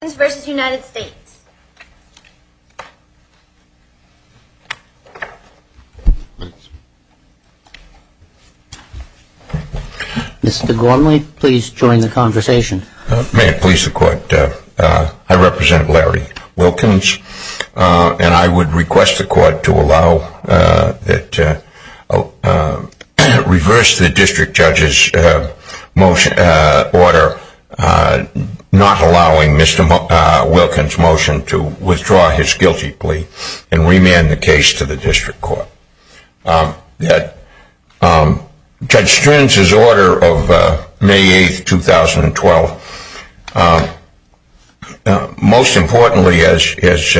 May it please the court, I represent Larry Wilkins and I would request the court to allow that, reverse the district judge's motion, order, not allowing Mr. Gormley to speak on behalf of the district judge. Mr. Wilkins motion to withdraw his guilty plea and remand the case to the district court. Judge Strins' order of May 8, 2012, most importantly as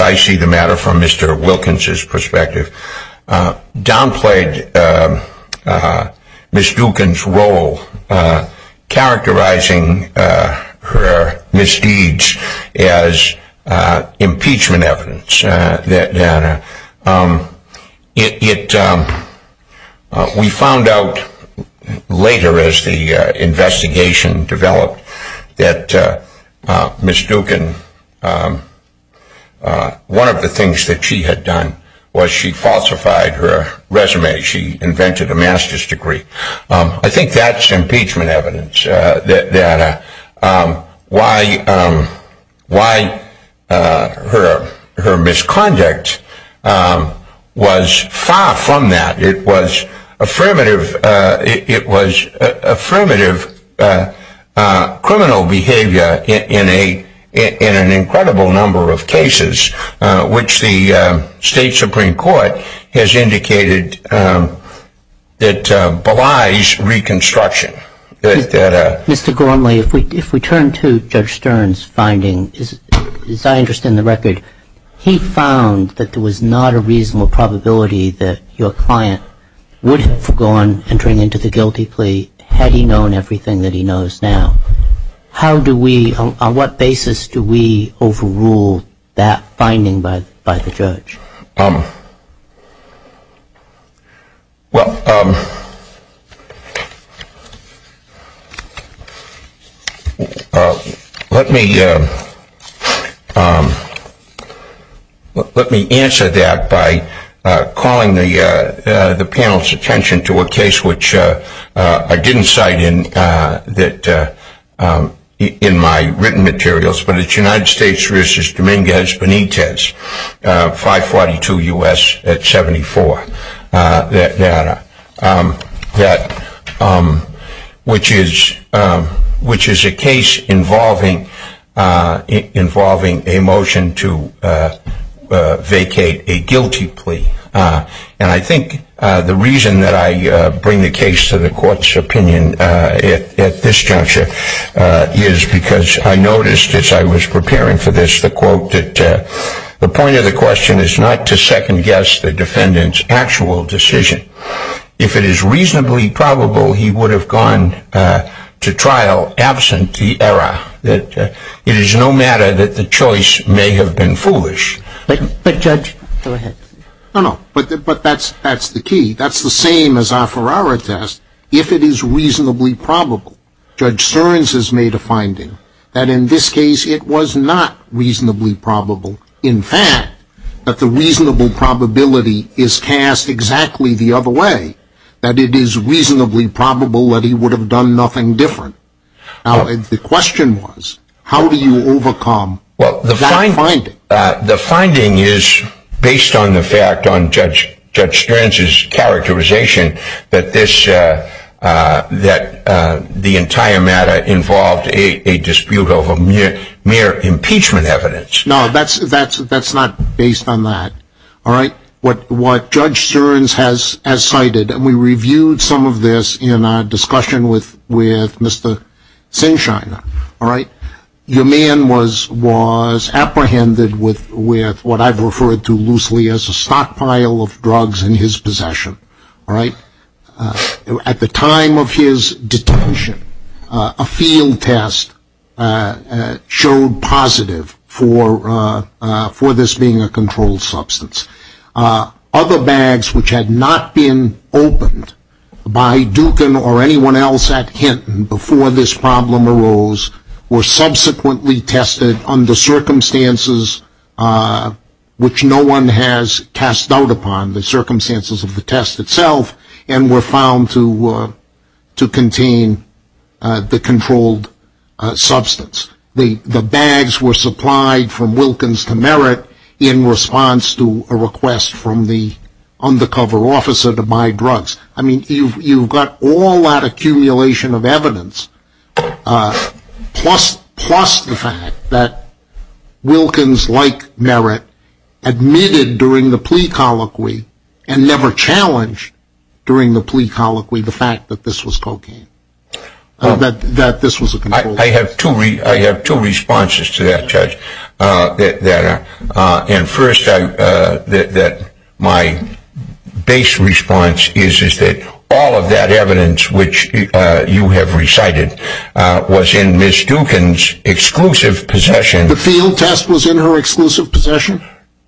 I see the matter from Mr. Wilkins' perspective, downplayed Ms. Dukin's role, characterizing her misdeeds as impeachment evidence. We found out later as the investigation developed that Ms. Dukin, one of the things that she had done was she falsified her resume, she invented a master's degree. I think that's impeachment evidence that why her misconduct was far from that. It was affirmative criminal behavior in an incredible number of cases which the state supreme court has indicated that belies reconstruction. Mr. Gormley, if we turn to Judge Strins' finding, as I understand the record, he found that there was not a reasonable probability that your client would have gone entering into the guilty plea had he known everything that he knows now. How do we, on what basis do we overrule that finding by the judge? Well, let me answer that by calling the panel's attention to a case which I didn't cite in my written materials, but it's United States v. Dominguez Benitez. 542 U.S. at 74, which is a case involving a motion to vacate a guilty plea. And I think the reason that I bring the case to the court's opinion at this juncture is because I noticed as I was preparing for this the quote that the point of the question is not to second guess the defendant's actual decision. If it is reasonably probable he would have gone to trial absent the error that it is no matter that the choice may have been foolish. But Judge, go ahead. No, no, but that's the key. That's the same as our Ferrara test. If it is reasonably probable, Judge Strins has made a finding that in this case it was not reasonably probable. In fact, that the reasonable probability is cast exactly the other way, that it is reasonably probable that he would have done nothing different. The question was, how do you overcome that finding? The finding is based on the fact on Judge Strins' characterization that the entire matter involved a dispute over mere impeachment evidence. No, that's not based on that. What Judge Strins has cited, and we reviewed some of this in our discussion with Mr. Sinshiner, your man was apprehended with what I've referred to loosely as a stockpile of drugs in his possession. At the time of his detention, a field test showed positive for this being a controlled substance. Other bags which had not been opened by Dukin or anyone else at Hinton before this problem arose were subsequently tested under circumstances which no one has cast doubt upon, the circumstances of the test itself, and were found to contain the controlled substance. The bags were supplied from Wilkins to Merritt in response to a request from the undercover officer to buy drugs. I mean, you've got all that accumulation of evidence, plus the fact that Wilkins, like Merritt, admitted during the plea colloquy and never challenged during the plea colloquy the fact that this was cocaine, that this was a controlled substance. I have two responses to that, Judge. First, my base response is that all of that evidence which you have recited was in Ms. Dukin's exclusive possession. The field test was in her exclusive possession?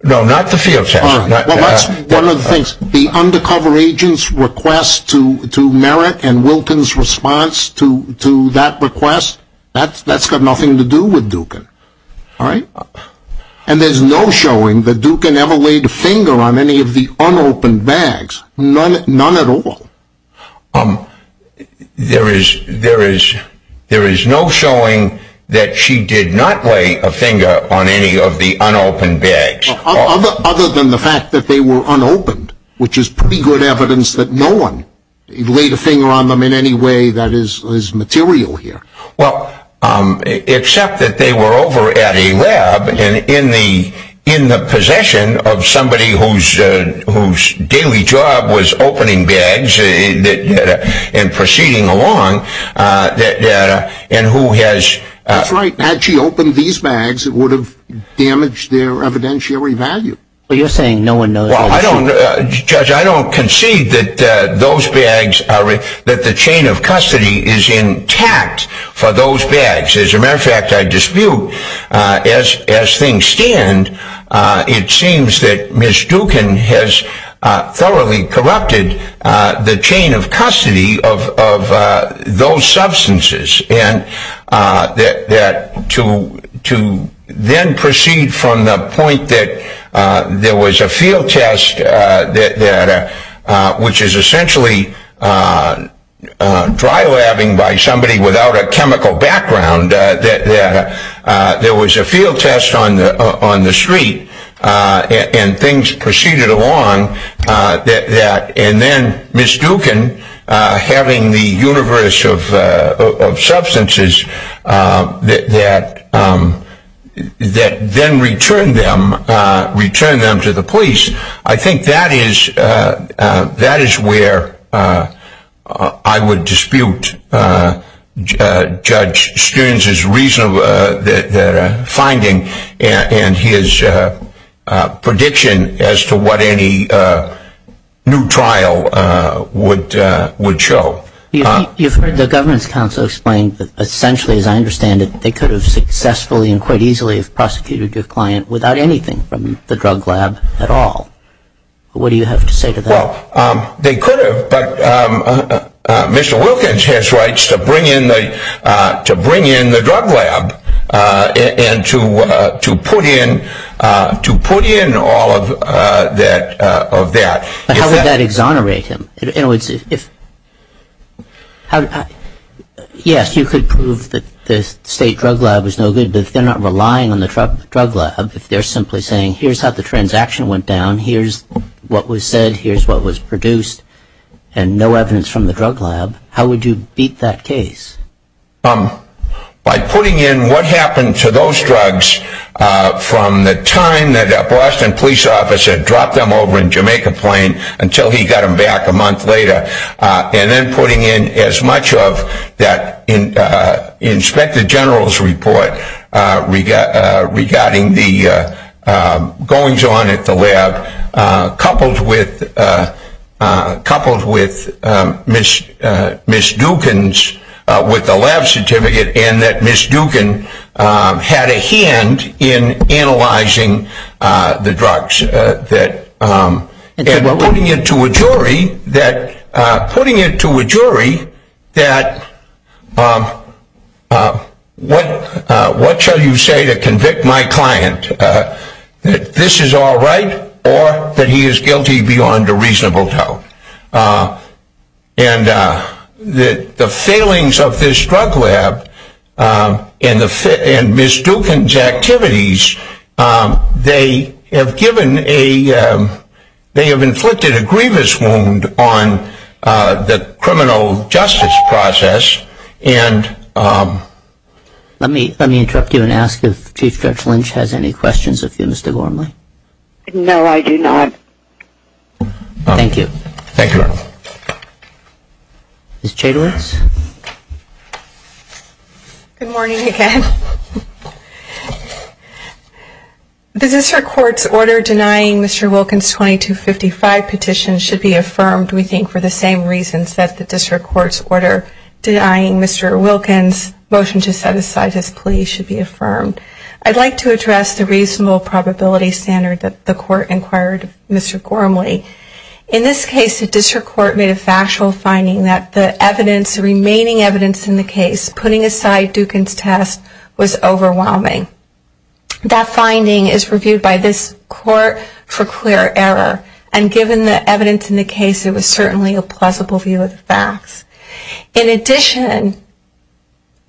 No, not the field test. Well, that's one of the things. The undercover agent's request to Merritt and Wilkins' response to that request, that's got nothing to do with Dukin. And there's no showing that Dukin ever laid a finger on any of the unopened bags. None at all. There is no showing that she did not lay a finger on any of the unopened bags. Other than the fact that they were unopened, which is pretty good evidence that no one laid a finger on them in any way that is material here. Well, except that they were over at a lab in the possession of somebody whose daily job was opening bags and proceeding along, and who has... Well, you're saying no one knows... Well, Judge, I don't concede that the chain of custody is intact for those bags. As a matter of fact, I dispute, as things stand, it seems that Ms. Dukin has thoroughly corrupted the chain of custody of those substances. And to then proceed from the point that there was a field test, which is essentially dry labbing by somebody without a chemical background, that there was a field test on the street, and things proceeded along, and then Ms. Dukin having the universe of substances that then returned them to the police, I think that is where I would dispute Judge Stearns' finding and his prediction as to what any new trial would show. You've heard the Governance Council explain that essentially, as I understand it, they could have successfully and quite easily have prosecuted your client without anything from the drug lab at all. What do you have to say to that? Well, they could have, but Mr. Wilkins has rights to bring in the drug lab and to put in all of that. But how would that exonerate him? Yes, you could prove that the state drug lab was no good, but if they're not relying on the drug lab, if they're simply saying, here's how the transaction went down, here's what was said, here's what was produced, and no evidence from the drug lab, how would you beat that case? By putting in what happened to those drugs from the time that a Boston police officer dropped them over in Jamaica Plain until he got them back a month later, and then putting in as much of that Inspector General's report regarding the goings-on at the lab, coupled with Ms. Dukin's with the lab certificate, and that Ms. Dukin had a hand in analyzing the drugs, and putting it to a jury that, what shall you say to convict my client? That this is all right, or that he is guilty beyond a reasonable doubt. And the failings of this drug lab and Ms. Dukin's activities, they have inflicted a grievous wound on the criminal justice process. Let me interrupt you and ask if Chief Judge Lynch has any questions of you, Mr. Gormley. No, I do not. Thank you. Thank you, Your Honor. Ms. Chadewitz. Good morning again. The District Court's order denying Mr. Wilkins 2255 petition should be affirmed, we think, for the same reasons that the District Court's order denying Mr. Wilkins' motion to set aside his plea should be affirmed. I would like to address the reasonable probability standard that the Court inquired of Mr. Gormley. In this case, the District Court made a factual finding that the remaining evidence in the case, putting aside Dukin's test, was overwhelming. That finding is reviewed by this Court for clear error, and given the evidence in the case, it was certainly a plausible view of the facts. In addition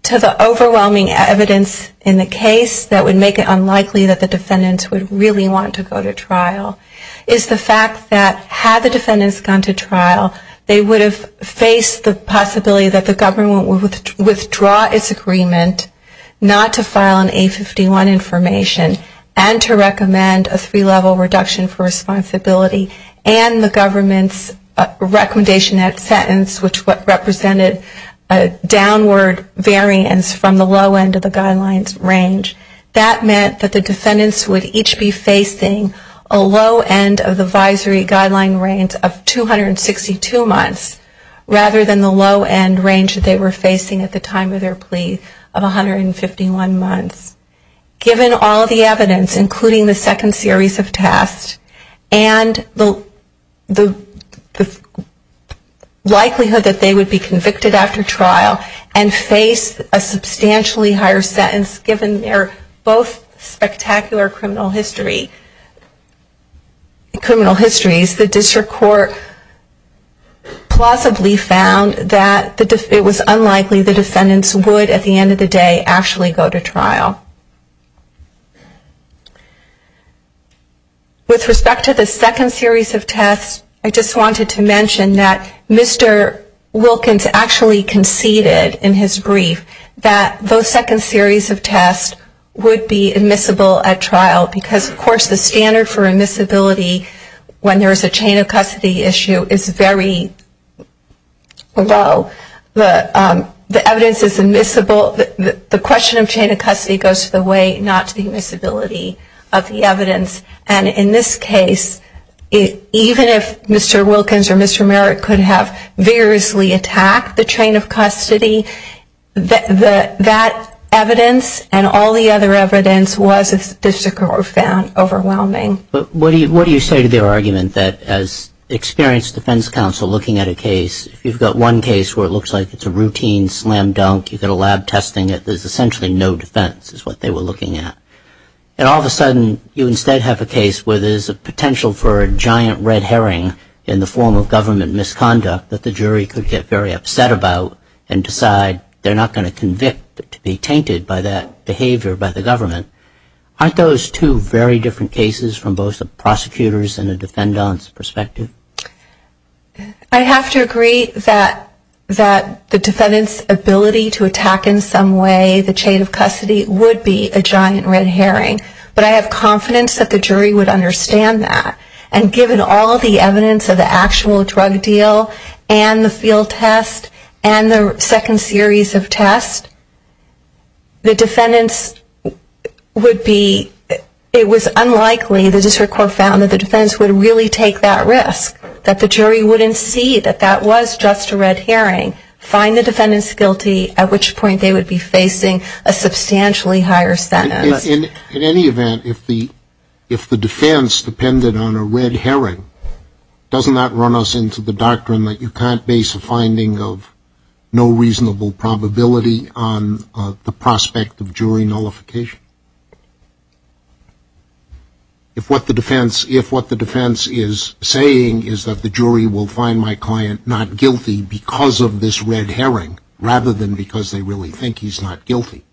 to the overwhelming evidence in the case that would make it unlikely that the defendants would really want to go to trial, is the fact that had the defendants gone to trial, they would have faced the possibility that the government would withdraw its agreement not to file an A51 information and to recommend a three-level reduction for responsibility and the government's recommendation at sentence, which would require a three-level reduction for responsibility. The three-level reduction represented a downward variance from the low end of the guidelines range. That meant that the defendants would each be facing a low end of the advisory guideline range of 262 months, rather than the low end range that they were facing at the time of their plea of 151 months. Given all of the evidence, including the second series of tests, and the likelihood that they would be convicted after trial and face a substantially higher sentence given their both spectacular criminal histories, the District Court plausibly found that it was unlikely the defendants would at the end of the day actually go to trial. With respect to the second series of tests, I just wanted to mention that Mr. Wilkins actually conceded in his brief that the second series of tests would be admissible at trial because, of course, the standard for admissibility when there is a chain of custody issue is very low. The evidence is admissible. The question of chain of custody goes to the weight, not to the admissibility of the evidence. And in this case, even if Mr. Wilkins or Mr. Merrick could have vigorously attacked the chain of custody, that evidence and all the other evidence was, as the District Court found, overwhelming. But what do you say to their argument that as experienced defense counsel looking at a case, if you've got one case where it looks like it's a routine slam dunk, you've got a lab testing it, there's essentially no defense is what they were looking at. And all of a sudden, you instead have a case where there's a potential for a giant red herring in the form of government misconduct that the jury could get very upset about and decide they're not going to convict but to be tainted by that behavior by the government. Aren't those two very different cases from both the prosecutor's and the defendant's perspective? I have to agree that the defendant's ability to attack in some way the chain of custody would be a giant red herring. But I have confidence that the jury would understand that. And given all of the evidence of the actual drug deal and the field test and the second series of tests, the defendant's ability to attack in some way would be a giant red herring. It was unlikely the district court found that the defense would really take that risk, that the jury wouldn't see that that was just a red herring, find the defendants guilty, at which point they would be facing a substantially higher sentence. In any event, if the defense depended on a red herring, doesn't that run us into the doctrine that you can't base a finding of no reasonable probability on the prospect of jury nullification? If what the defense is saying is that the jury will find my client not guilty because of this red herring, rather than because they really think he's not guilty,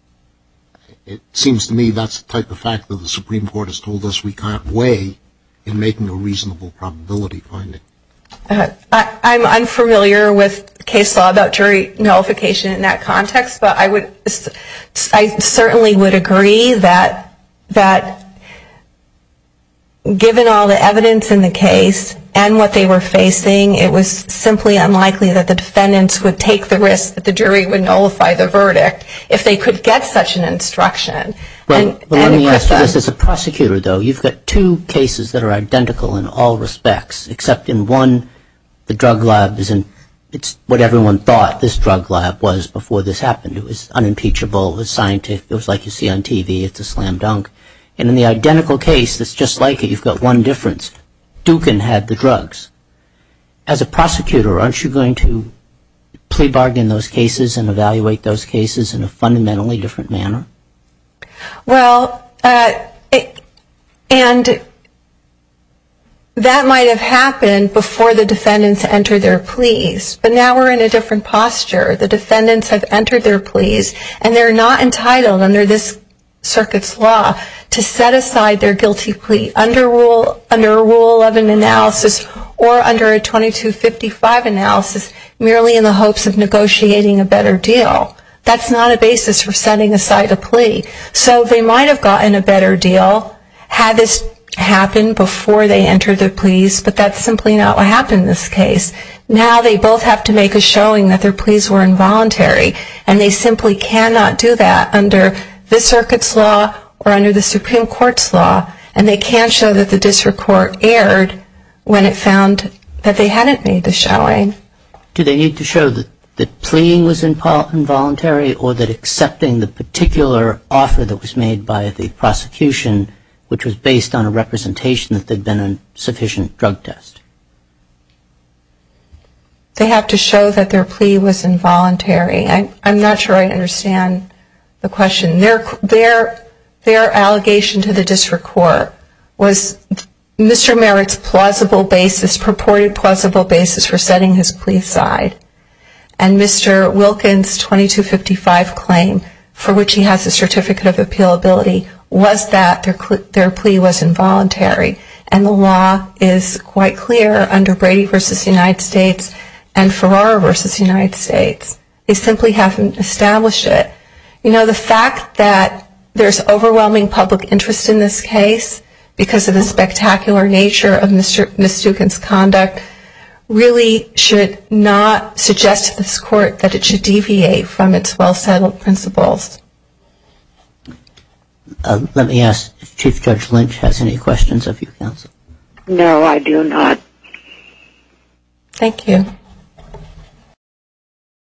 it seems to me that's the type of fact that the Supreme Court has told us we can't weigh in making a reasonable probability finding. I'm unfamiliar with case law about jury nullification in that context, but I certainly would agree that the Supreme Court would be able to do that. But given all the evidence in the case and what they were facing, it was simply unlikely that the defendants would take the risk that the jury would nullify the verdict if they could get such an instruction. Well, let me ask you this as a prosecutor, though. You've got two cases that are identical in all respects, except in one, the drug lab is what everyone thought this drug lab was before this happened. It was unimpeachable, it was scientific, it was like you see on TV, it's a slam dunk. And in the identical case that's just like it, you've got one difference, Dukin had the drugs. As a prosecutor, aren't you going to plea bargain those cases and evaluate those cases in a fundamentally different manner? Well, and that might have happened before the defendants entered their pleas. But now we're in a different posture. The defendants have entered their pleas and they're not entitled under this circuit's law to set aside their guilty plea under a rule of an analysis or under a 2255 analysis merely in the hopes of negotiating a better deal. That's not a basis for setting aside a plea. So they might have gotten a better deal had this happened before they entered their pleas, but that's simply not what happened in this case. Now they both have to make a showing that their pleas were involuntary. And they simply cannot do that under this circuit's law or under the Supreme Court's law. And they can't show that the district court erred when it found that they hadn't made the showing. Do they need to show that the plea was involuntary or that accepting the particular offer that was made by the prosecution, which was based on a representation that there had been a sufficient drug test? They have to show that their plea was involuntary. I'm not sure I understand the question. Their allegation to the district court was Mr. Merrick's purported plausible basis for setting his plea aside. And Mr. Wilkin's 2255 claim, for which he has a certificate of appealability, was that their plea was involuntary. And the law is quite clear under Brady v. United States and Ferrara v. United States. They simply haven't established it. You know, the fact that there's overwhelming public interest in this case because of the spectacular nature of Ms. Stuckin's conduct really should not suggest to this court that it should deviate from its well-settled principles. Let me ask if Chief Judge Lynch has any questions of you, Counsel. No, I do not. Thank you.